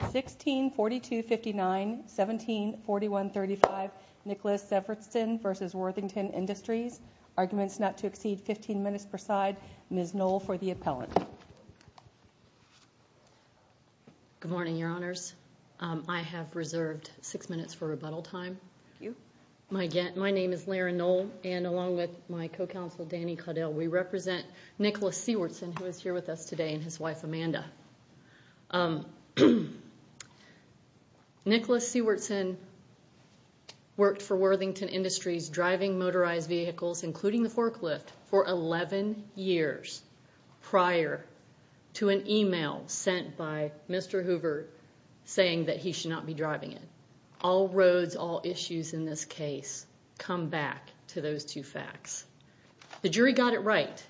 1642-59, 1741-35, Nicholas Siewertsen v. Worthington Industries. Arguments not to exceed 15 minutes per side. Ms. Knoll for the appellant. Good morning, Your Honors. I have reserved six minutes for rebuttal time. Thank you. My name is Laryn Knoll, and along with my co-counsel, Danny Caudill, we represent Nicholas Siewertsen, who is here with us today, and his wife, Amanda. Nicholas Siewertsen worked for Worthington Industries, driving motorized vehicles, including the forklift, for 11 years prior to an email sent by Mr. Hoover saying that he should not be driving it. All roads, all issues in this case come back to those two facts. The jury got it right.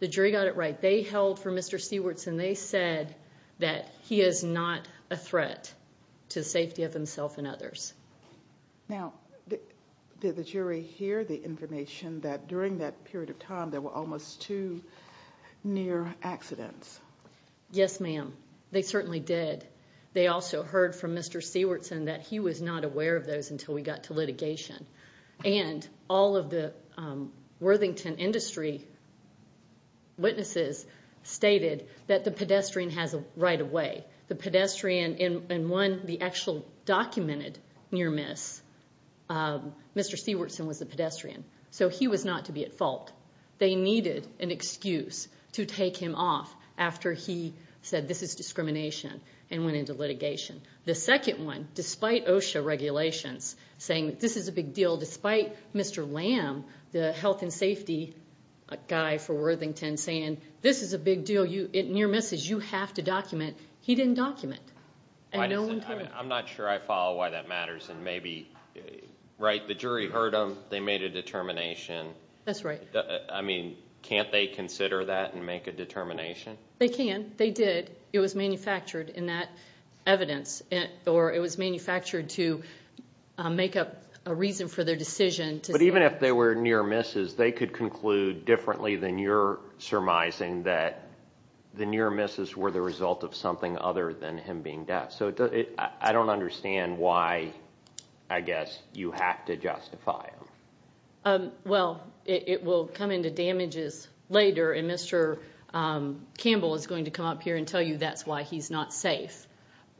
The jury got it right. They held for Mr. Siewertsen. They said that he is not a threat to the safety of himself and others. Now, did the jury hear the information that during that period of time there were almost two near accidents? Yes, ma'am. They certainly did. They also heard from Mr. Siewertsen that he was not aware of those until we got to litigation. All of the Worthington Industry witnesses stated that the pedestrian has a right of way. The pedestrian in one, the actual documented near miss, Mr. Siewertsen was the pedestrian. So he was not to be at fault. They needed an excuse to take him off after he said this is discrimination and went into litigation. The second one, despite OSHA regulations, saying this is a big deal, despite Mr. Lamb, the health and safety guy for Worthington, saying this is a big deal, near misses, you have to document, he didn't document. I'm not sure I follow why that matters. The jury heard them. They made a determination. That's right. Can't they consider that and make a determination? They can. They did. It was manufactured in that evidence, or it was manufactured to make up a reason for their decision. But even if they were near misses, they could conclude differently than you're surmising that the near misses were the result of something other than him being deaf. I don't understand why, I guess, you have to justify them. Well, it will come into damages later, and Mr. Campbell is going to come up here and tell you that's why he's not safe.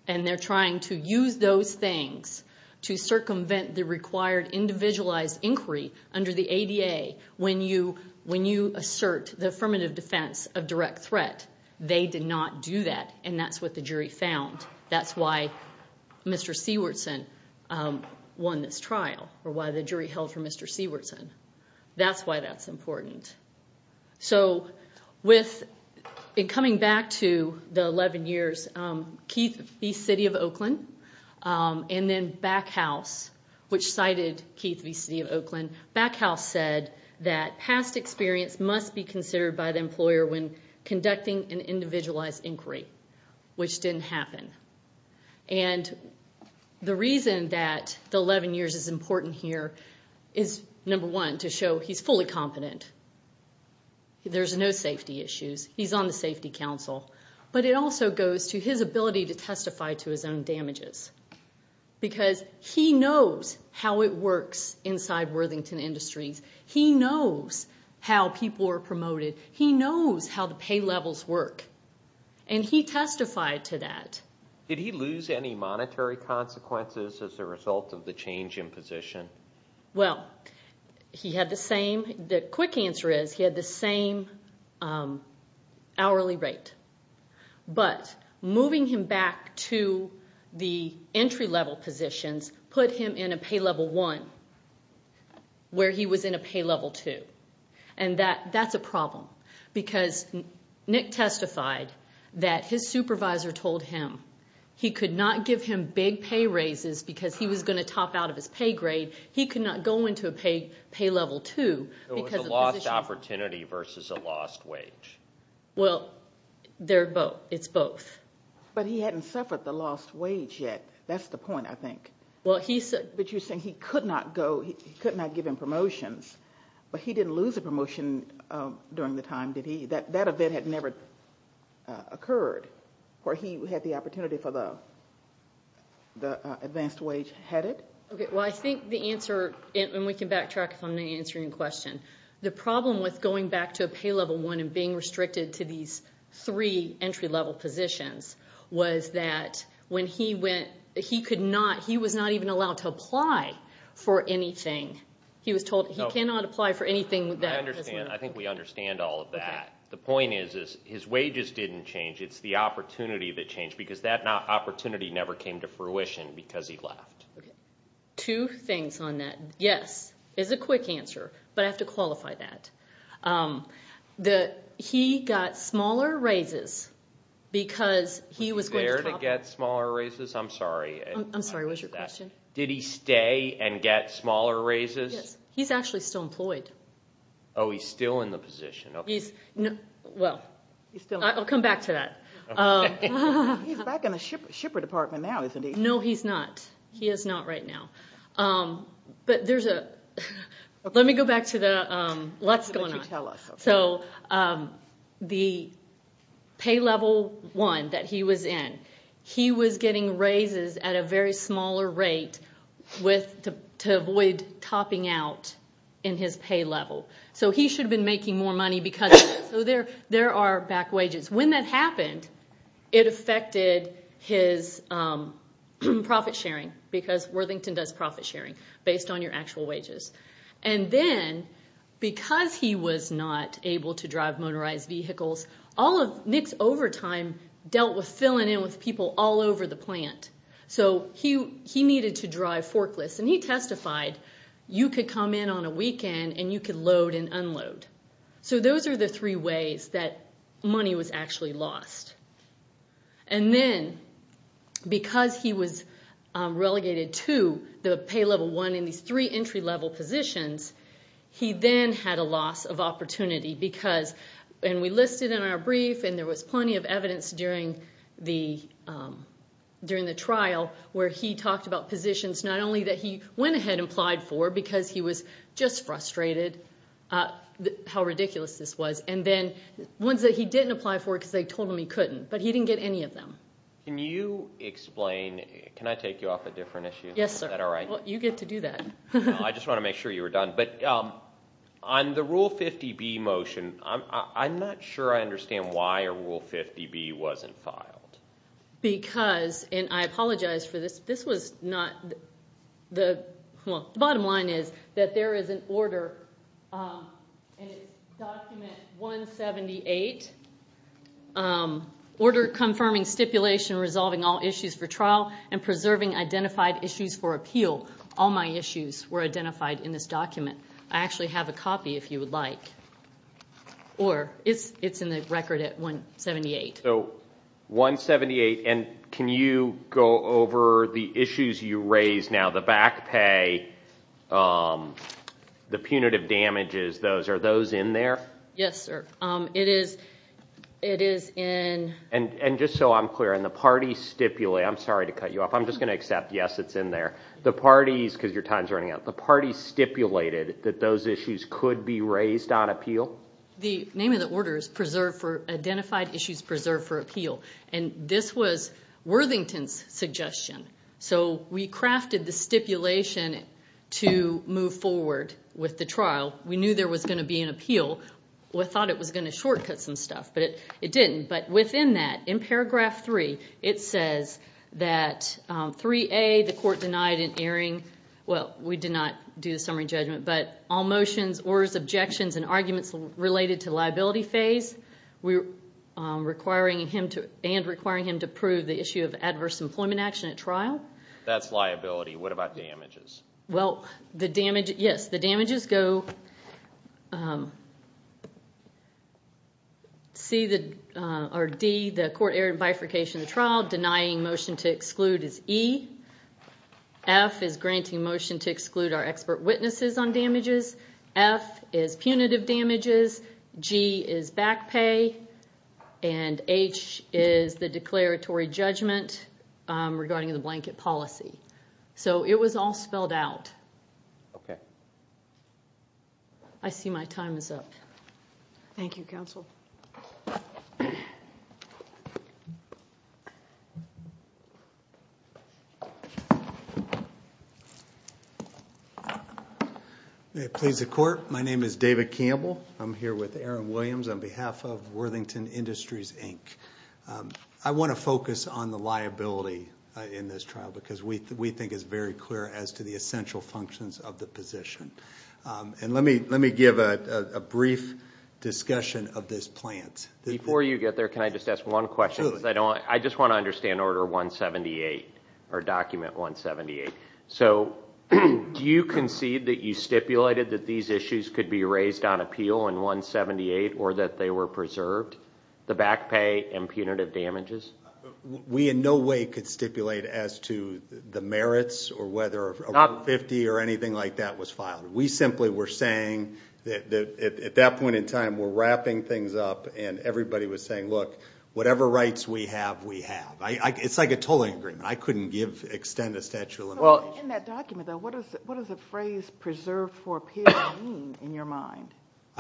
They're trying to use those things to circumvent the required individualized inquiry under the ADA when you assert the affirmative defense of direct threat. They did not do that, and that's what the jury found. That's why Mr. Sewardson won this trial, or why the jury held for Mr. Sewardson. That's why that's important. So in coming back to the 11 years, Keith v. City of Oakland, and then Backhouse, which cited Keith v. City of Oakland, Backhouse said that past experience must be considered by the employer when conducting an individualized inquiry, which didn't happen. And the reason that the 11 years is important here is, number one, to show he's fully competent. There's no safety issues. He's on the Safety Council. But it also goes to his ability to testify to his own damages, because he knows how it works inside Worthington Industries. He knows how people are promoted. He knows how the pay levels work, and he testified to that. Did he lose any monetary consequences as a result of the change in position? Well, he had the same. The quick answer is he had the same hourly rate. But moving him back to the entry-level positions put him in a pay level one, where he was in a pay level two. And that's a problem, because Nick testified that his supervisor told him he could not give him big pay raises because he was going to top out of his pay grade. He could not go into a pay level two because of the position. It was a lost opportunity versus a lost wage. Well, it's both. But he hadn't suffered the lost wage yet. That's the point, I think. But you're saying he could not give him promotions, but he didn't lose a promotion during the time. That event had never occurred, where he had the opportunity for the advanced wage. Well, I think the answer, and we can backtrack if I'm answering your question, the problem with going back to a pay level one and being restricted to these three entry-level positions was that when he went, he was not even allowed to apply for anything. He was told he cannot apply for anything. I think we understand all of that. The point is his wages didn't change. It's the opportunity that changed, because that opportunity never came to fruition because he left. Two things on that. Yes is a quick answer, but I have to qualify that. He got smaller raises because he was going to top out. Was he there to get smaller raises? I'm sorry. I'm sorry, what was your question? Did he stay and get smaller raises? Yes. He's actually still employed. Oh, he's still in the position. Well, I'll come back to that. He's back in the shipper department now, isn't he? No, he's not. He is not right now. But let me go back to what's going on. So the pay level one that he was in, he was getting raises at a very smaller rate to avoid topping out in his pay level. So he should have been making more money because of that. So there are back wages. When that happened, it affected his profit sharing, because Worthington does profit sharing based on your actual wages. And then because he was not able to drive motorized vehicles, all of Nick's overtime dealt with filling in with people all over the plant. So he needed to drive forklifts, and he testified, you could come in on a weekend and you could load and unload. So those are the three ways that money was actually lost. And then because he was relegated to the pay level one in these three entry level positions, he then had a loss of opportunity. And we listed in our brief, and there was plenty of evidence during the trial, where he talked about positions not only that he went ahead and applied for, because he was just frustrated how ridiculous this was, and then ones that he didn't apply for because they told him he couldn't. But he didn't get any of them. Can you explain? Can I take you off a different issue? Yes, sir. Is that all right? Well, you get to do that. No, I just wanted to make sure you were done. But on the Rule 50B motion, I'm not sure I understand why a Rule 50B wasn't filed. Because, and I apologize for this, this was not the – the problem is that there is an order, and it's document 178, Order Confirming Stipulation Resolving All Issues for Trial and Preserving Identified Issues for Appeal. All my issues were identified in this document. I actually have a copy if you would like. Or it's in the record at 178. Okay, so 178, and can you go over the issues you raised now, the back pay, the punitive damages, those, are those in there? Yes, sir. It is in – And just so I'm clear, in the party stipulate, I'm sorry to cut you off, I'm just going to accept, yes, it's in there. The parties, because your time is running out, the parties stipulated that those issues could be raised on appeal? Well, the name of the order is Preserve for – Identified Issues Preserved for Appeal. And this was Worthington's suggestion. So we crafted the stipulation to move forward with the trial. We knew there was going to be an appeal. We thought it was going to shortcut some stuff, but it didn't. But within that, in paragraph 3, it says that 3A, the court denied an airing – well, we did not do the summary judgment – but all motions, orders, objections, and arguments related to liability phase. We're requiring him to – and requiring him to prove the issue of adverse employment action at trial. That's liability. What about damages? Well, the damage – yes, the damages go – C, or D, the court aired bifurcation of the trial. Denying motion to exclude is E. F is granting motion to exclude our expert witnesses on damages. F is punitive damages. G is back pay. And H is the declaratory judgment regarding the blanket policy. So it was all spelled out. Okay. I see my time is up. Thank you, counsel. May it please the court, my name is David Campbell. I'm here with Aaron Williams on behalf of Worthington Industries, Inc. I want to focus on the liability in this trial because we think it's very clear as to the essential functions of the position. And let me give a brief discussion of this plan. Before you get there, can I just ask one question? Absolutely. I just want to understand Order 178, or Document 178. So do you concede that you stipulated that these issues could be raised on appeal in 178 or that they were preserved, the back pay and punitive damages? We in no way could stipulate as to the merits or whether a Rule 50 or anything like that was filed. We simply were saying that at that point in time we're wrapping things up and everybody was saying, look, whatever rights we have, we have. It's like a tolling agreement. I couldn't extend a statute of limitations. In that document, though, what does the phrase preserved for appeal mean in your mind?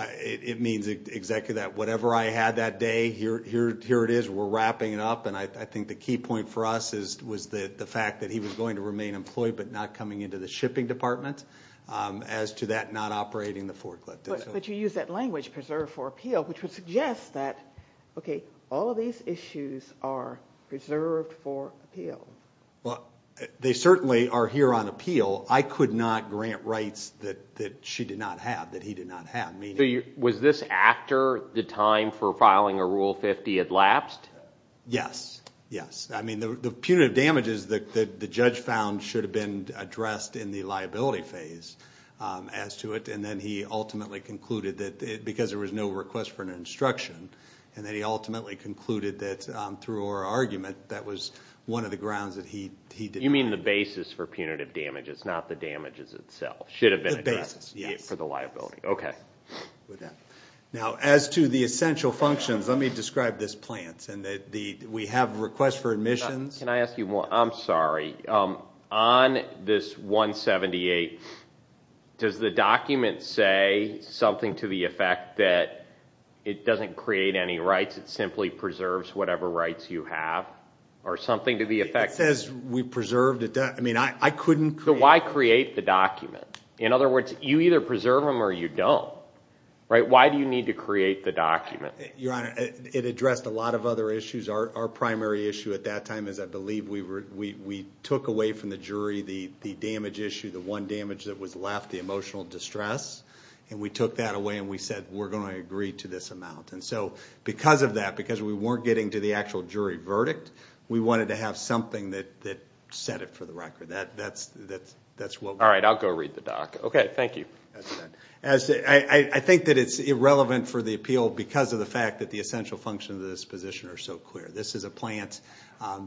It means exactly that. Whatever I had that day, here it is. We're wrapping it up. And I think the key point for us was the fact that he was going to remain employed but not coming into the shipping department as to that not operating the forklift. But you use that language, preserved for appeal, which would suggest that, okay, all of these issues are preserved for appeal. Well, they certainly are here on appeal. I could not grant rights that she did not have, that he did not have. Was this after the time for filing a Rule 50 had lapsed? Yes, yes. I mean the punitive damages that the judge found should have been addressed in the liability phase as to it. And then he ultimately concluded that because there was no request for an instruction, and then he ultimately concluded that through our argument, that was one of the grounds that he did not. You mean the basis for punitive damages, not the damages itself, should have been addressed for the liability. Yes. Okay. Now, as to the essential functions, let me describe this plan. We have a request for admissions. Can I ask you one? I'm sorry. On this 178, does the document say something to the effect that it doesn't create any rights, it simply preserves whatever rights you have, or something to the effect? It says we preserved it. I mean I couldn't create it. So why create the document? In other words, you either preserve them or you don't. Why do you need to create the document? Your Honor, it addressed a lot of other issues. Our primary issue at that time is I believe we took away from the jury the damage issue, the one damage that was left, the emotional distress, and we took that away and we said we're going to agree to this amount. And so because of that, because we weren't getting to the actual jury verdict, we wanted to have something that set it for the record. All right, I'll go read the doc. Okay, thank you. I think that it's irrelevant for the appeal because of the fact that the essential functions of this position are so clear. This is a plant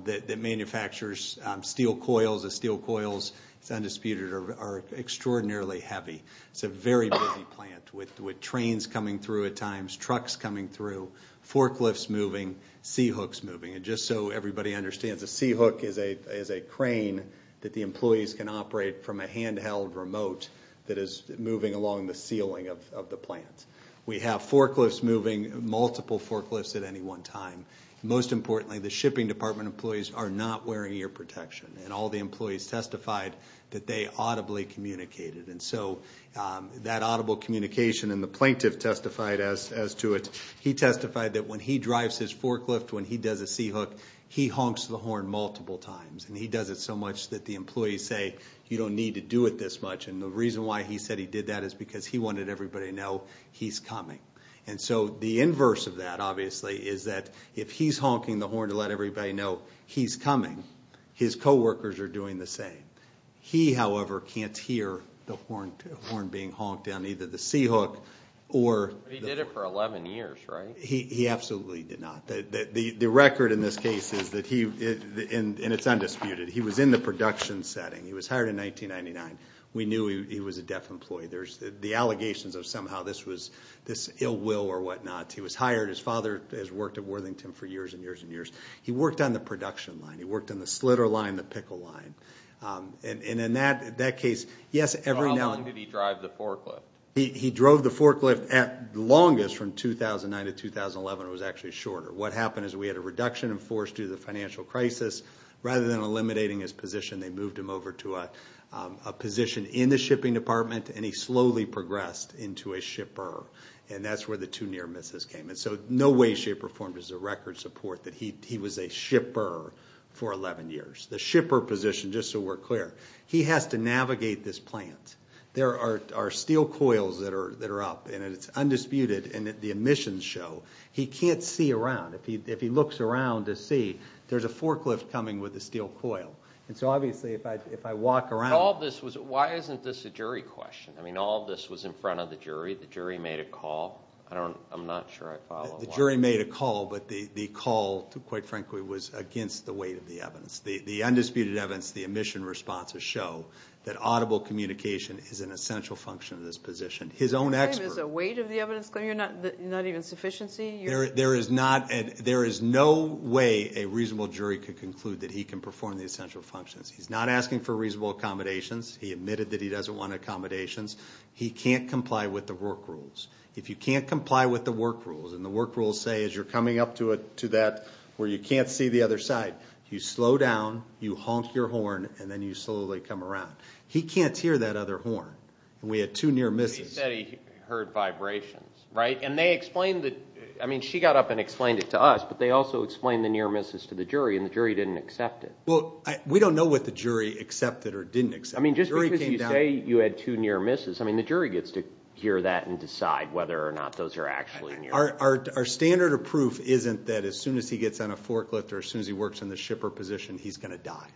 that manufactures steel coils. The steel coils, it's undisputed, are extraordinarily heavy. It's a very busy plant with trains coming through at times, trucks coming through, forklifts moving, C-hooks moving. And just so everybody understands, a C-hook is a crane that the employees can operate from a handheld remote that is moving along the ceiling of the plant. We have forklifts moving, multiple forklifts at any one time. Most importantly, the shipping department employees are not wearing ear protection, and all the employees testified that they audibly communicated. And so that audible communication and the plaintiff testified as to it. He testified that when he drives his forklift, when he does a C-hook, he honks the horn multiple times, and he does it so much that the employees say, you don't need to do it this much. And the reason why he said he did that is because he wanted everybody to know he's coming. And so the inverse of that, obviously, is that if he's honking the horn to let everybody know he's coming, his co-workers are doing the same. He, however, can't hear the horn being honked on either the C-hook or the ---- But he did it for 11 years, right? He absolutely did not. The record in this case is that he, and it's undisputed, he was in the production setting. He was hired in 1999. We knew he was a deaf employee. There's the allegations of somehow this ill will or whatnot. He was hired. His father has worked at Worthington for years and years and years. He worked on the production line. He worked on the slitter line, the pickle line. And in that case, yes, every now and then ---- So how long did he drive the forklift? He drove the forklift the longest from 2009 to 2011. It was actually shorter. What happened is we had a reduction in force due to the financial crisis. Rather than eliminating his position, they moved him over to a position in the shipping department, and he slowly progressed into a shipper. And that's where the two near misses came in. So no way shipper form is a record support that he was a shipper for 11 years. The shipper position, just so we're clear, he has to navigate this plant. There are steel coils that are up, and it's undisputed, and the emissions show. He can't see around. If he looks around to see, there's a forklift coming with a steel coil. And so, obviously, if I walk around ---- Why isn't this a jury question? I mean, all of this was in front of the jury. The jury made a call. I'm not sure I follow. The jury made a call, but the call, quite frankly, was against the weight of the evidence. The undisputed evidence, the emission responses show that audible communication is an essential function of this position. His own experts ---- Is the weight of the evidence clear? Not even sufficiency? There is no way a reasonable jury could conclude that he can perform the essential functions. He's not asking for reasonable accommodations. He admitted that he doesn't want accommodations. He can't comply with the work rules. If you can't comply with the work rules, and the work rules say as you're coming up to that where you can't see the other side, you slow down, you honk your horn, and then you slowly come around. He can't hear that other horn. We had two near misses. He said he heard vibrations, right? She got up and explained it to us, but they also explained the near misses to the jury, and the jury didn't accept it. We don't know what the jury accepted or didn't accept. Just because you say you had two near misses, the jury gets to hear that and decide whether or not those are actually near misses. Our standard of proof isn't that as soon as he gets on a forklift or as soon as he works in the shipper position, he's going to die.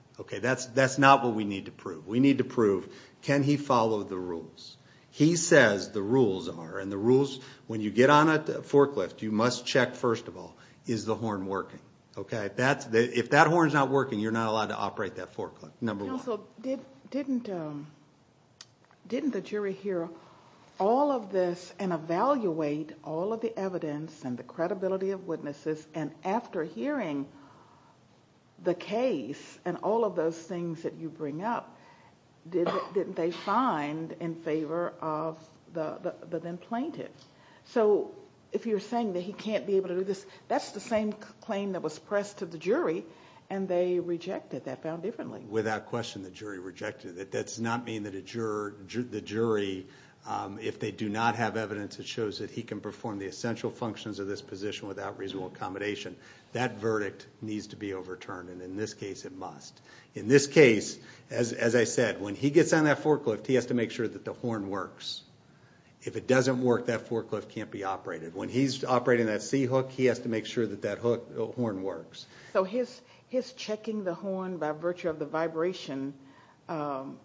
That's not what we need to prove. We need to prove can he follow the rules? He says the rules are, and the rules when you get on a forklift, you must check first of all, is the horn working? Okay? If that horn's not working, you're not allowed to operate that forklift, number one. Counsel, didn't the jury hear all of this and evaluate all of the evidence and the credibility of witnesses, and after hearing the case and all of those things that you bring up, didn't they find in favor of the then plaintiff? So if you're saying that he can't be able to do this, that's the same claim that was pressed to the jury, and they rejected that found differently. Without question, the jury rejected it. That does not mean that the jury, if they do not have evidence that shows that he can perform the essential functions of this position without reasonable accommodation, that verdict needs to be overturned, and in this case it must. In this case, as I said, when he gets on that forklift, he has to make sure that the horn works. If it doesn't work, that forklift can't be operated. When he's operating that C-hook, he has to make sure that that horn works. So his checking the horn by virtue of the vibration, that's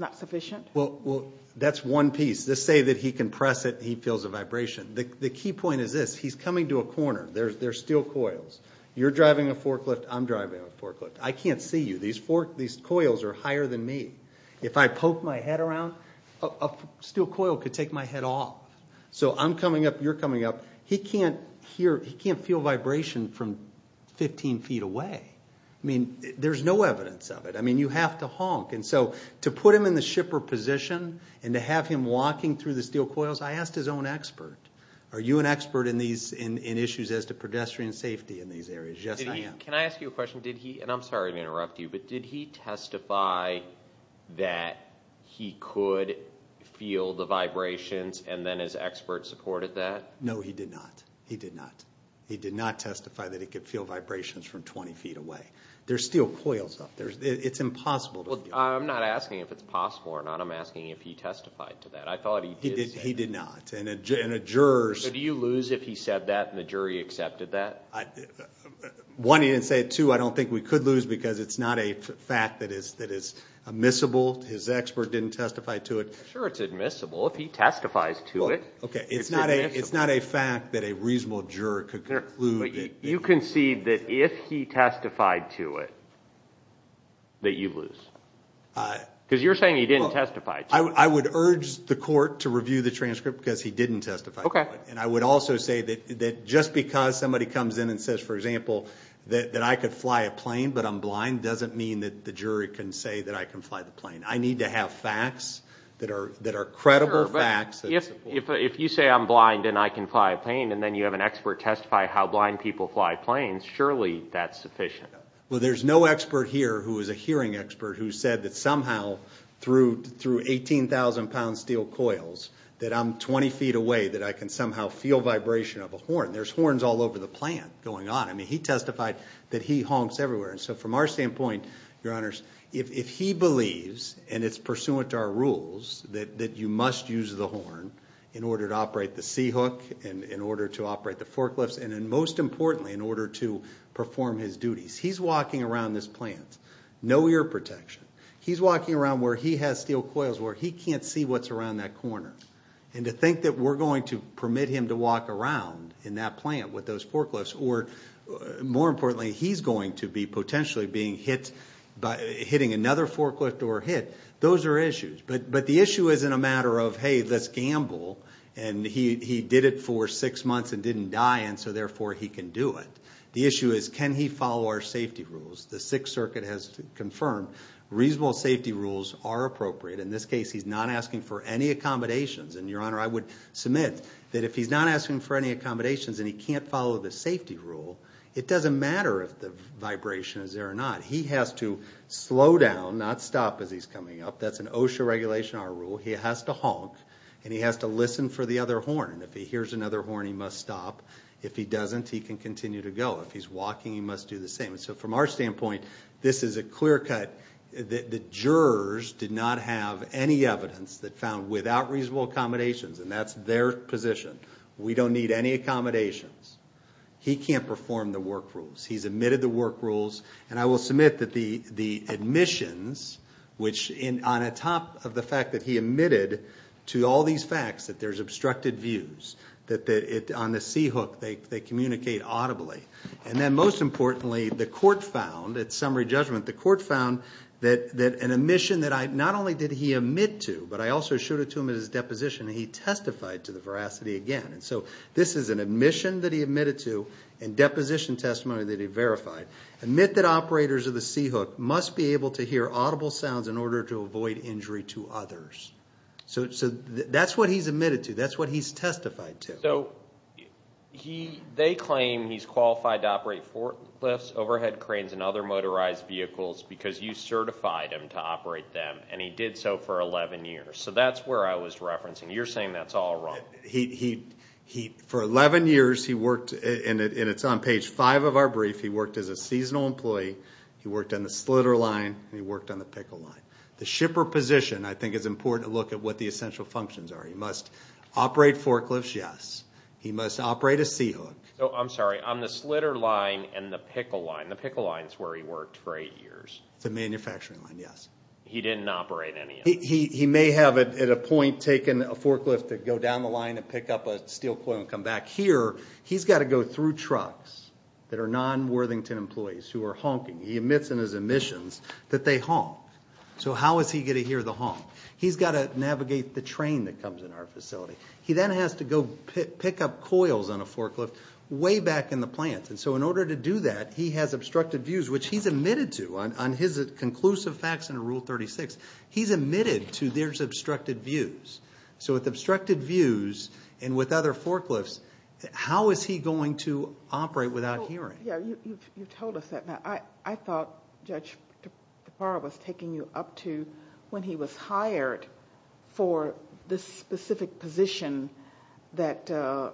not sufficient? Well, that's one piece. Let's say that he can press it and he feels a vibration. The key point is this. He's coming to a corner. There's steel coils. You're driving a forklift. I'm driving a forklift. I can't see you. These coils are higher than me. If I poke my head around, a steel coil could take my head off. So I'm coming up, you're coming up. He can't feel vibration from 15 feet away. I mean, there's no evidence of it. I mean, you have to honk. So to put him in the shipper position and to have him walking through the steel coils, I asked his own expert, are you an expert in issues as to pedestrian safety in these areas? Yes, I am. Can I ask you a question? And I'm sorry to interrupt you, but did he testify that he could feel the vibrations and then his expert supported that? No, he did not. He did not. He did not testify that he could feel vibrations from 20 feet away. There's steel coils up there. It's impossible to feel. Well, I'm not asking if it's possible or not. I'm asking if he testified to that. I thought he did say that. He did not. And a juror's... So do you lose if he said that and the jury accepted that? One, he didn't say it. Two, I don't think we could lose because it's not a fact that is admissible. His expert didn't testify to it. Sure, it's admissible. If he testifies to it, it's admissible. Okay, it's not a fact that a reasonable juror could conclude that... Because you're saying he didn't testify to it. I would urge the court to review the transcript because he didn't testify to it. Okay. And I would also say that just because somebody comes in and says, for example, that I could fly a plane but I'm blind, doesn't mean that the jury can say that I can fly the plane. I need to have facts that are credible facts. Sure, but if you say I'm blind and I can fly a plane and then you have an expert testify how blind people fly planes, surely that's sufficient. Well, there's no expert here who is a hearing expert who said that somehow through 18,000-pound steel coils that I'm 20 feet away, that I can somehow feel vibration of a horn. There's horns all over the plant going on. I mean, he testified that he honks everywhere. And so from our standpoint, Your Honors, if he believes, and it's pursuant to our rules, that you must use the horn in order to operate the C-hook, in order to operate the forklifts, and then most importantly, in order to perform his duties. He's walking around this plant, no ear protection. He's walking around where he has steel coils, where he can't see what's around that corner. And to think that we're going to permit him to walk around in that plant with those forklifts or, more importantly, he's going to be potentially being hit by hitting another forklift or hit, those are issues. But the issue isn't a matter of, hey, let's gamble, and he did it for six months and didn't die, and so therefore he can do it. The issue is, can he follow our safety rules? The Sixth Circuit has confirmed reasonable safety rules are appropriate. In this case, he's not asking for any accommodations. And, Your Honor, I would submit that if he's not asking for any accommodations and he can't follow the safety rule, it doesn't matter if the vibration is there or not. He has to slow down, not stop as he's coming up. That's an OSHA regulation, our rule. He has to honk and he has to listen for the other horn. If he hears another horn, he must stop. If he doesn't, he can continue to go. If he's walking, he must do the same. So from our standpoint, this is a clear cut. The jurors did not have any evidence that found without reasonable accommodations, and that's their position. We don't need any accommodations. He can't perform the work rules. He's omitted the work rules. And I will submit that the admissions, on top of the fact that he omitted to all these facts that there's obstructed views, that on the C-hook, they communicate audibly. And then most importantly, the court found, at summary judgment, the court found that an admission that not only did he omit to, but I also showed it to him at his deposition, and he testified to the veracity again. And so this is an admission that he omitted to and deposition testimony that he verified. Admit that operators of the C-hook must be able to hear audible sounds in order to avoid injury to others. So that's what he's omitted to. That's what he's testified to. So they claim he's qualified to operate forklifts, overhead cranes, and other motorized vehicles because you certified him to operate them, and he did so for 11 years. So that's where I was referencing. You're saying that's all wrong. He, for 11 years, he worked, and it's on page 5 of our brief, he worked as a seasonal employee, he worked on the Slitter line, and he worked on the Pickle line. The shipper position, I think, is important to look at what the essential functions are. He must operate forklifts, yes. He must operate a C-hook. I'm sorry, on the Slitter line and the Pickle line. The Pickle line is where he worked for eight years. The manufacturing line, yes. He didn't operate any of them. He may have at a point taken a forklift to go down the line and pick up a steel coil and come back. Here, he's got to go through trucks that are non-Worthington employees who are honking. He admits in his admissions that they honk. So how is he going to hear the honk? He's got to navigate the train that comes in our facility. He then has to go pick up coils on a forklift way back in the plant. And so in order to do that, he has obstructed views, which he's admitted to on his conclusive facts under Rule 36. He's admitted to there's obstructed views. So with obstructed views and with other forklifts, how is he going to operate without hearing? You've told us that. I thought Judge DePauw was taking you up to when he was hired for this specific position that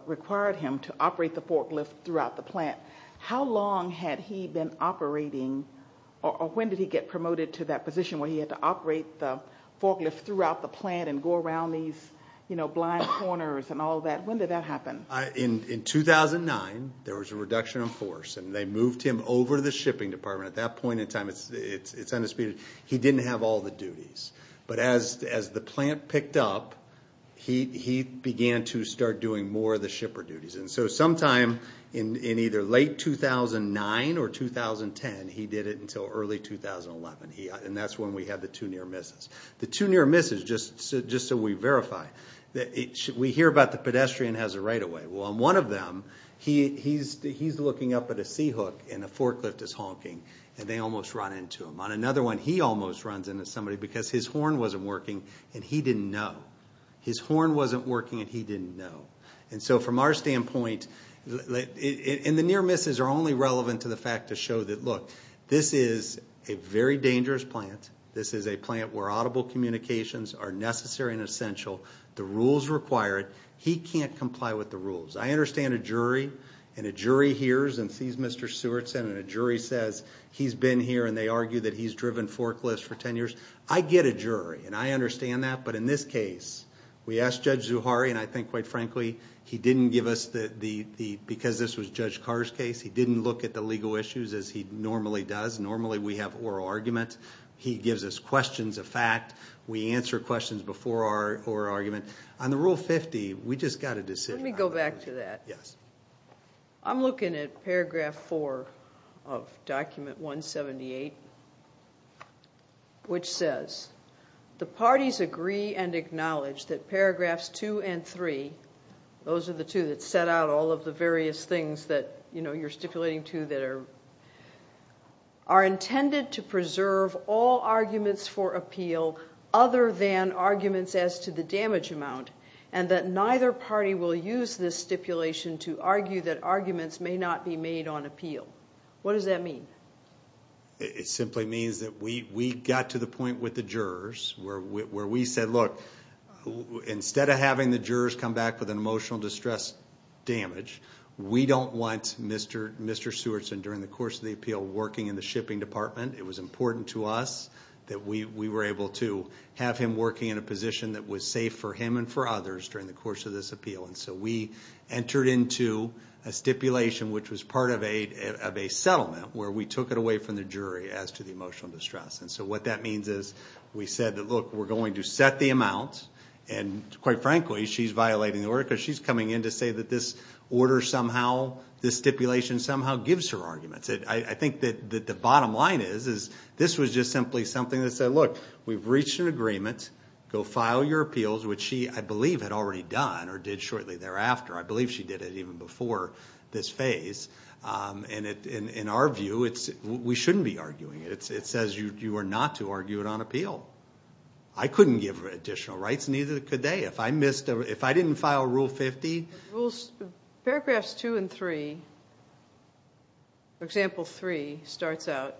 required him to operate the forklift throughout the plant. How long had he been operating, or when did he get promoted to that position where he had to operate the forklift throughout the plant and go around these blind corners and all that? When did that happen? In 2009, there was a reduction of force, and they moved him over to the shipping department. At that point in time, it's undisputed, he didn't have all the duties. But as the plant picked up, he began to start doing more of the shipper duties. And so sometime in either late 2009 or 2010, he did it until early 2011, and that's when we had the two near misses. The two near misses, just so we verify, we hear about the pedestrian has a right-of-way. Well, on one of them, he's looking up at a C-hook, and a forklift is honking, and they almost run into him. On another one, he almost runs into somebody because his horn wasn't working, and he didn't know. His horn wasn't working, and he didn't know. And so from our standpoint, and the near misses are only relevant to the fact to show that, look, this is a very dangerous plant. This is a plant where audible communications are necessary and essential. The rules require it. He can't comply with the rules. I understand a jury, and a jury hears and sees Mr. Sewardson, and a jury says he's been here, and they argue that he's driven forklifts for 10 years. I get a jury, and I understand that, but in this case, we asked Judge Zuhari, and I think, quite frankly, he didn't give us the, because this was Judge Carr's case, he didn't look at the legal issues as he normally does. Normally, we have oral argument. He gives us questions of fact. We answer questions before our oral argument. On the Rule 50, we just got a decision. Let me go back to that. I'm looking at Paragraph 4 of Document 178, which says, the parties agree and acknowledge that Paragraphs 2 and 3, those are the two that set out all of the various things that you're stipulating to that are intended to preserve all arguments for appeal other than arguments as to the damage amount, and that neither party will use this stipulation to argue that arguments may not be made on appeal. What does that mean? It simply means that we got to the point with the jurors where we said, look, instead of having the jurors come back with an emotional distress damage, we don't want Mr. Sewardson during the course of the appeal working in the shipping department. It was important to us that we were able to have him working in a position that was safe for him and for others during the course of this appeal. We entered into a stipulation which was part of a settlement where we took it away from the jury as to the emotional distress. What that means is we said, look, we're going to set the amount, and quite frankly, she's violating the order because she's coming in and saying that this order somehow, this stipulation somehow gives her arguments. I think that the bottom line is this was just simply something that said, look, we've reached an agreement. Go file your appeals, which she, I believe, had already done or did shortly thereafter. I believe she did it even before this phase. In our view, we shouldn't be arguing it. It says you are not to argue it on appeal. I couldn't give her additional rights, and neither could they. If I didn't file Rule 50. Paragraphs 2 and 3. Example 3 starts out,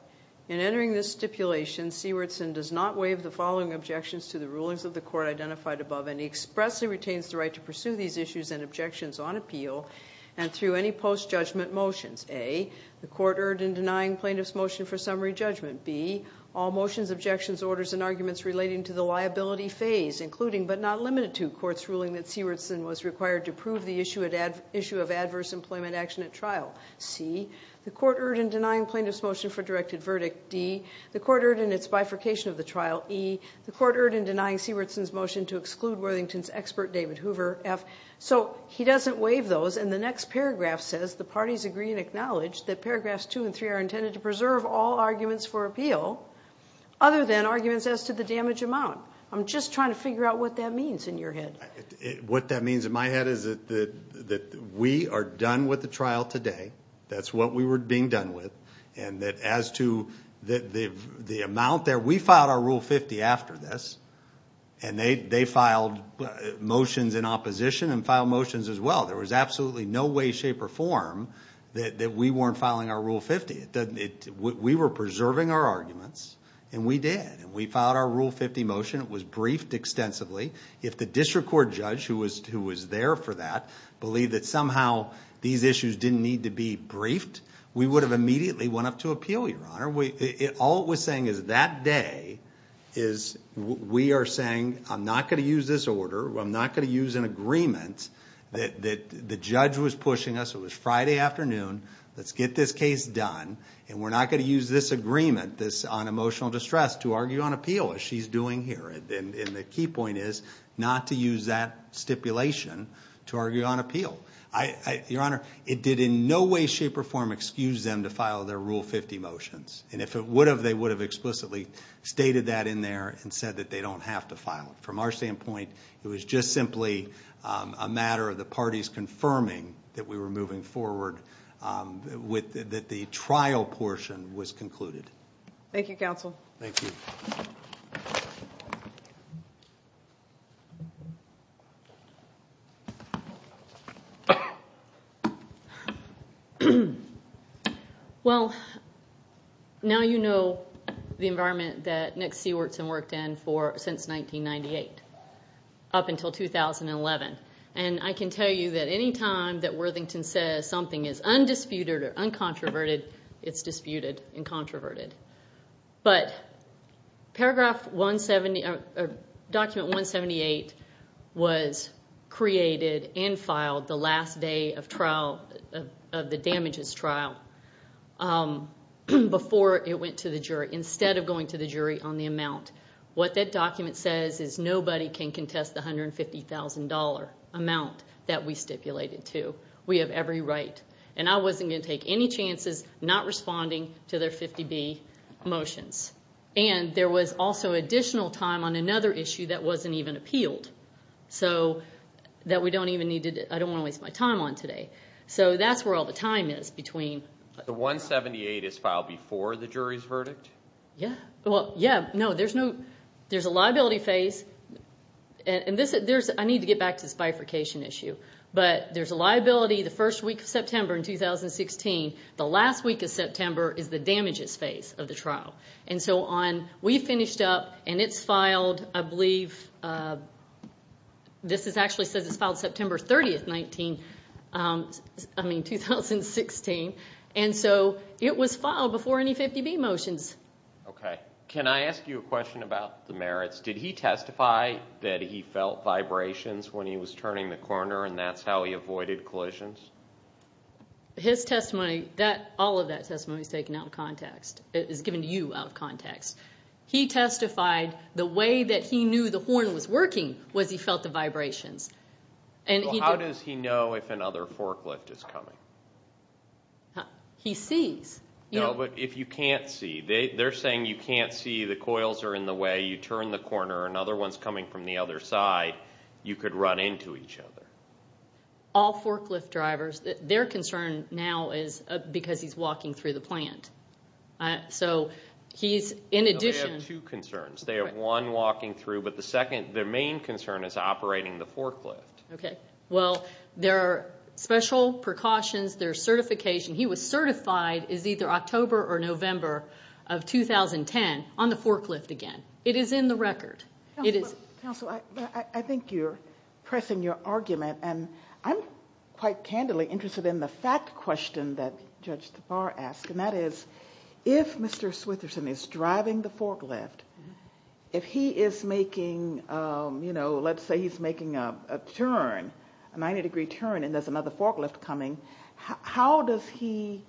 In entering this stipulation, Sewardson does not waive the following objections to the rulings of the court identified above, and he expressly retains the right to pursue these issues and objections on appeal and through any post-judgment motions. A, the court erred in denying plaintiff's motion for summary judgment. B, all motions, objections, orders, and arguments relating to the liability phase, including but not limited to court's ruling that Sewardson was required to prove the issue of adverse employment action at trial. C, the court erred in denying plaintiff's motion for directed verdict. D, the court erred in its bifurcation of the trial. E, the court erred in denying Sewardson's motion to exclude Worthington's expert, David Hoover. F, so he doesn't waive those, and the next paragraph says, the parties agree and acknowledge that paragraphs 2 and 3 are intended to preserve all arguments for appeal other than arguments as to the damage amount. I'm just trying to figure out what that means in your head. What that means in my head is that we are done with the trial today. That's what we were being done with. And that as to the amount there, we filed our Rule 50 after this, and they filed motions in opposition and filed motions as well. There was absolutely no way, shape, or form that we weren't filing our Rule 50. We were preserving our arguments, and we did. We filed our Rule 50 motion. It was briefed extensively. If the district court judge, who was there for that, believed that somehow these issues didn't need to be briefed, we would have immediately went up to appeal, Your Honor. All it was saying is that day is we are saying, I'm not going to use this order. I'm not going to use an agreement that the judge was pushing us. It was Friday afternoon. Let's get this case done, and we're not going to use this agreement, this on emotional distress, to argue on appeal, as she's doing here. And the key point is not to use that stipulation to argue on appeal. Your Honor, it did in no way, shape, or form excuse them to file their Rule 50 motions. And if it would have, they would have explicitly stated that in there and said that they don't have to file it. From our standpoint, it was just simply a matter of the parties confirming that we were moving forward, that the trial portion was concluded. Thank you, counsel. Thank you. Well, now you know the environment that Nick Sewardson worked in since 1998, up until 2011. And I can tell you that any time that Worthington says something is undisputed or uncontroverted, it's disputed and controverted. But Document 178 was created and filed the last day of the damages trial before it went to the jury, instead of going to the jury on the amount. What that document says is nobody can contest the $150,000 amount that we stipulated to. We have every right. And I wasn't going to take any chances not responding to their 50B motions. And there was also additional time on another issue that wasn't even appealed, so that we don't even need to, I don't want to waste my time on today. So that's where all the time is between. The 178 is filed before the jury's verdict? Yeah. Well, yeah. No, there's a liability phase. And I need to get back to this bifurcation issue. But there's a liability the first week of September in 2016. The last week of September is the damages phase of the trial. And so we finished up, and it's filed, I believe, this actually says it's filed September 30, 2016. And so it was filed before any 50B motions. Okay. Can I ask you a question about the merits? Did he testify that he felt vibrations when he was turning the corner, and that's how he avoided collisions? His testimony, all of that testimony is taken out of context, is given to you out of context. He testified the way that he knew the horn was working was he felt the vibrations. Well, how does he know if another forklift is coming? He sees. No, but if you can't see. They're saying you can't see, the coils are in the way, you turn the corner, another one's coming from the other side, you could run into each other. All forklift drivers, their concern now is because he's walking through the plant. So he's in addition. No, they have two concerns. They have one walking through, but the second, their main concern is operating the forklift. Okay. Well, there are special precautions, there's certification. He was certified as either October or November of 2010 on the forklift again. It is in the record. Counsel, I think you're pressing your argument, and I'm quite candidly interested in the fact question that Judge Tabar asked, and that is if Mr. Switherson is driving the forklift, if he is making, let's say he's making a turn, a 90-degree turn, and there's another forklift coming, how does he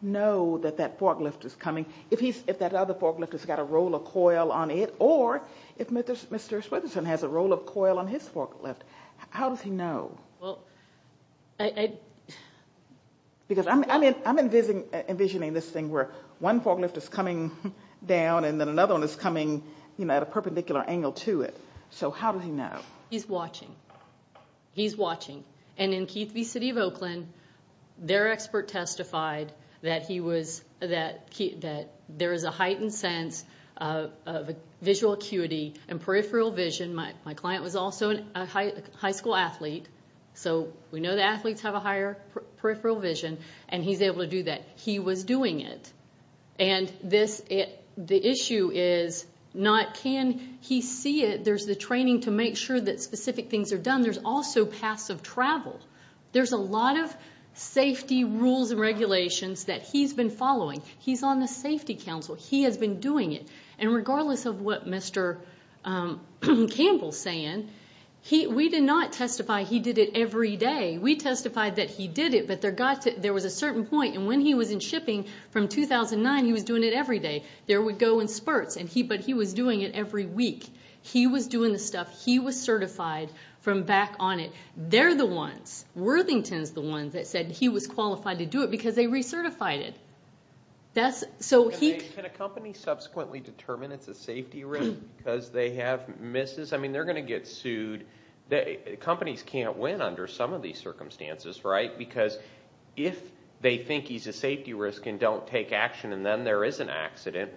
know that that forklift is coming? If that other forklift has got a roll of coil on it, or if Mr. Switherson has a roll of coil on his forklift, how does he know? Because I'm envisioning this thing where one forklift is coming down and then another one is coming at a perpendicular angle to it. So how does he know? He's watching. He's watching. And in Keith v. City of Oakland, their expert testified that there is a heightened sense of visual acuity and peripheral vision. My client was also a high school athlete, so we know that athletes have a higher peripheral vision, and he's able to do that. He was doing it. And the issue is not can he see it. There's the training to make sure that specific things are done. There's also passive travel. There's a lot of safety rules and regulations that he's been following. He's on the safety council. He has been doing it. And regardless of what Mr. Campbell is saying, we did not testify he did it every day. We testified that he did it, but there was a certain point, and when he was in shipping from 2009, he was doing it every day. There would go in spurts, but he was doing it every week. He was doing the stuff. He was certified from back on it. They're the ones. Worthington's the ones that said he was qualified to do it because they recertified it. Can a company subsequently determine it's a safety risk because they have misses? I mean, they're going to get sued. Companies can't win under some of these circumstances, right, because if they think he's a safety risk and don't take action and then there is an accident,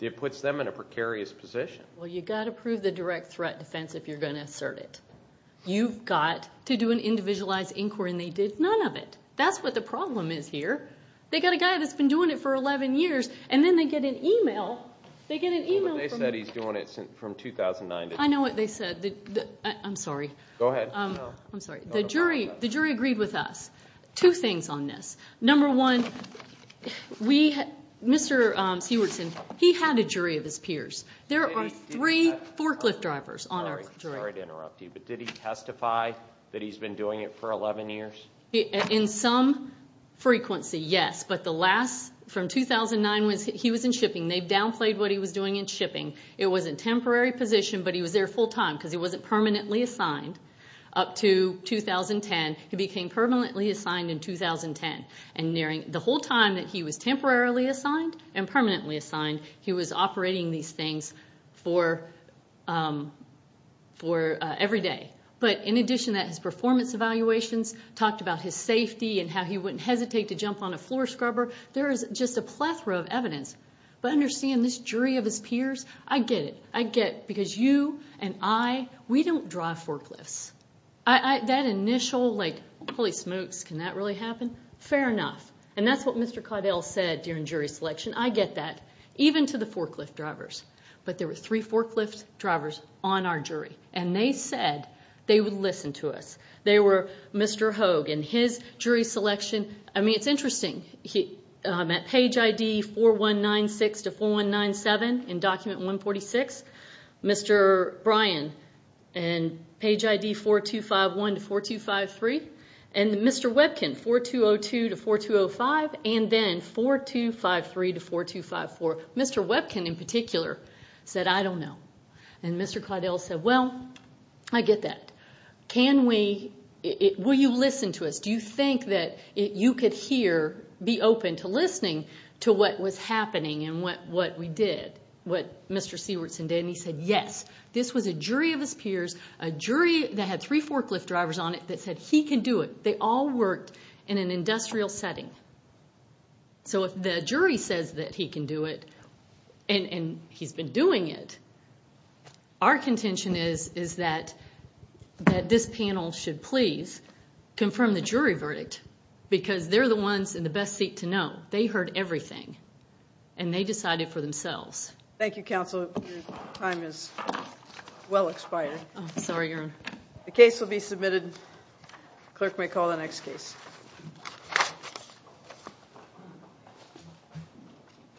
it puts them in a precarious position. Well, you've got to prove the direct threat defense if you're going to assert it. You've got to do an individualized inquiry, and they did none of it. That's what the problem is here. They've got a guy that's been doing it for 11 years, and then they get an e-mail. They get an e-mail. They said he's been doing it since 2009. I know what they said. I'm sorry. Go ahead. I'm sorry. The jury agreed with us. Two things on this. Number one, Mr. Sewardson, he had a jury of his peers. There are three forklift drivers on our jury. Sorry to interrupt you, but did he testify that he's been doing it for 11 years? In some frequency, yes, but the last, from 2009, he was in shipping. They downplayed what he was doing in shipping. It was a temporary position, but he was there full time because he wasn't permanently assigned up to 2010. He became permanently assigned in 2010, and the whole time that he was temporarily assigned and permanently assigned, he was operating these things for every day. But in addition to his performance evaluations, talked about his safety and how he wouldn't hesitate to jump on a floor scrubber, there is just a plethora of evidence. But understand, this jury of his peers, I get it. I get it because you and I, we don't drive forklifts. That initial, like, holy smokes, can that really happen? Fair enough, and that's what Mr. Caudill said during jury selection. I get that, even to the forklift drivers. But there were three forklift drivers on our jury, and they said they would listen to us. They were Mr. Hogue and his jury selection. I mean, it's interesting. At page ID 4196 to 4197 in document 146, Mr. Bryan and page ID 4251 to 4253, and Mr. Webkin, 4202 to 4205, and then 4253 to 4254. Mr. Webkin in particular said, I don't know. And Mr. Caudill said, well, I get that. Can we, will you listen to us? Do you think that you could hear, be open to listening to what was happening and what we did, what Mr. Sewardson did? And he said, yes. This was a jury of his peers, a jury that had three forklift drivers on it that said he can do it. They all worked in an industrial setting. So if the jury says that he can do it and he's been doing it, our contention is that this panel should please confirm the jury verdict because they're the ones in the best seat to know. They heard everything, and they decided for themselves. Thank you, counsel. Your time is well expired. I'm sorry, Your Honor. The case will be submitted. Clerk may call the next case.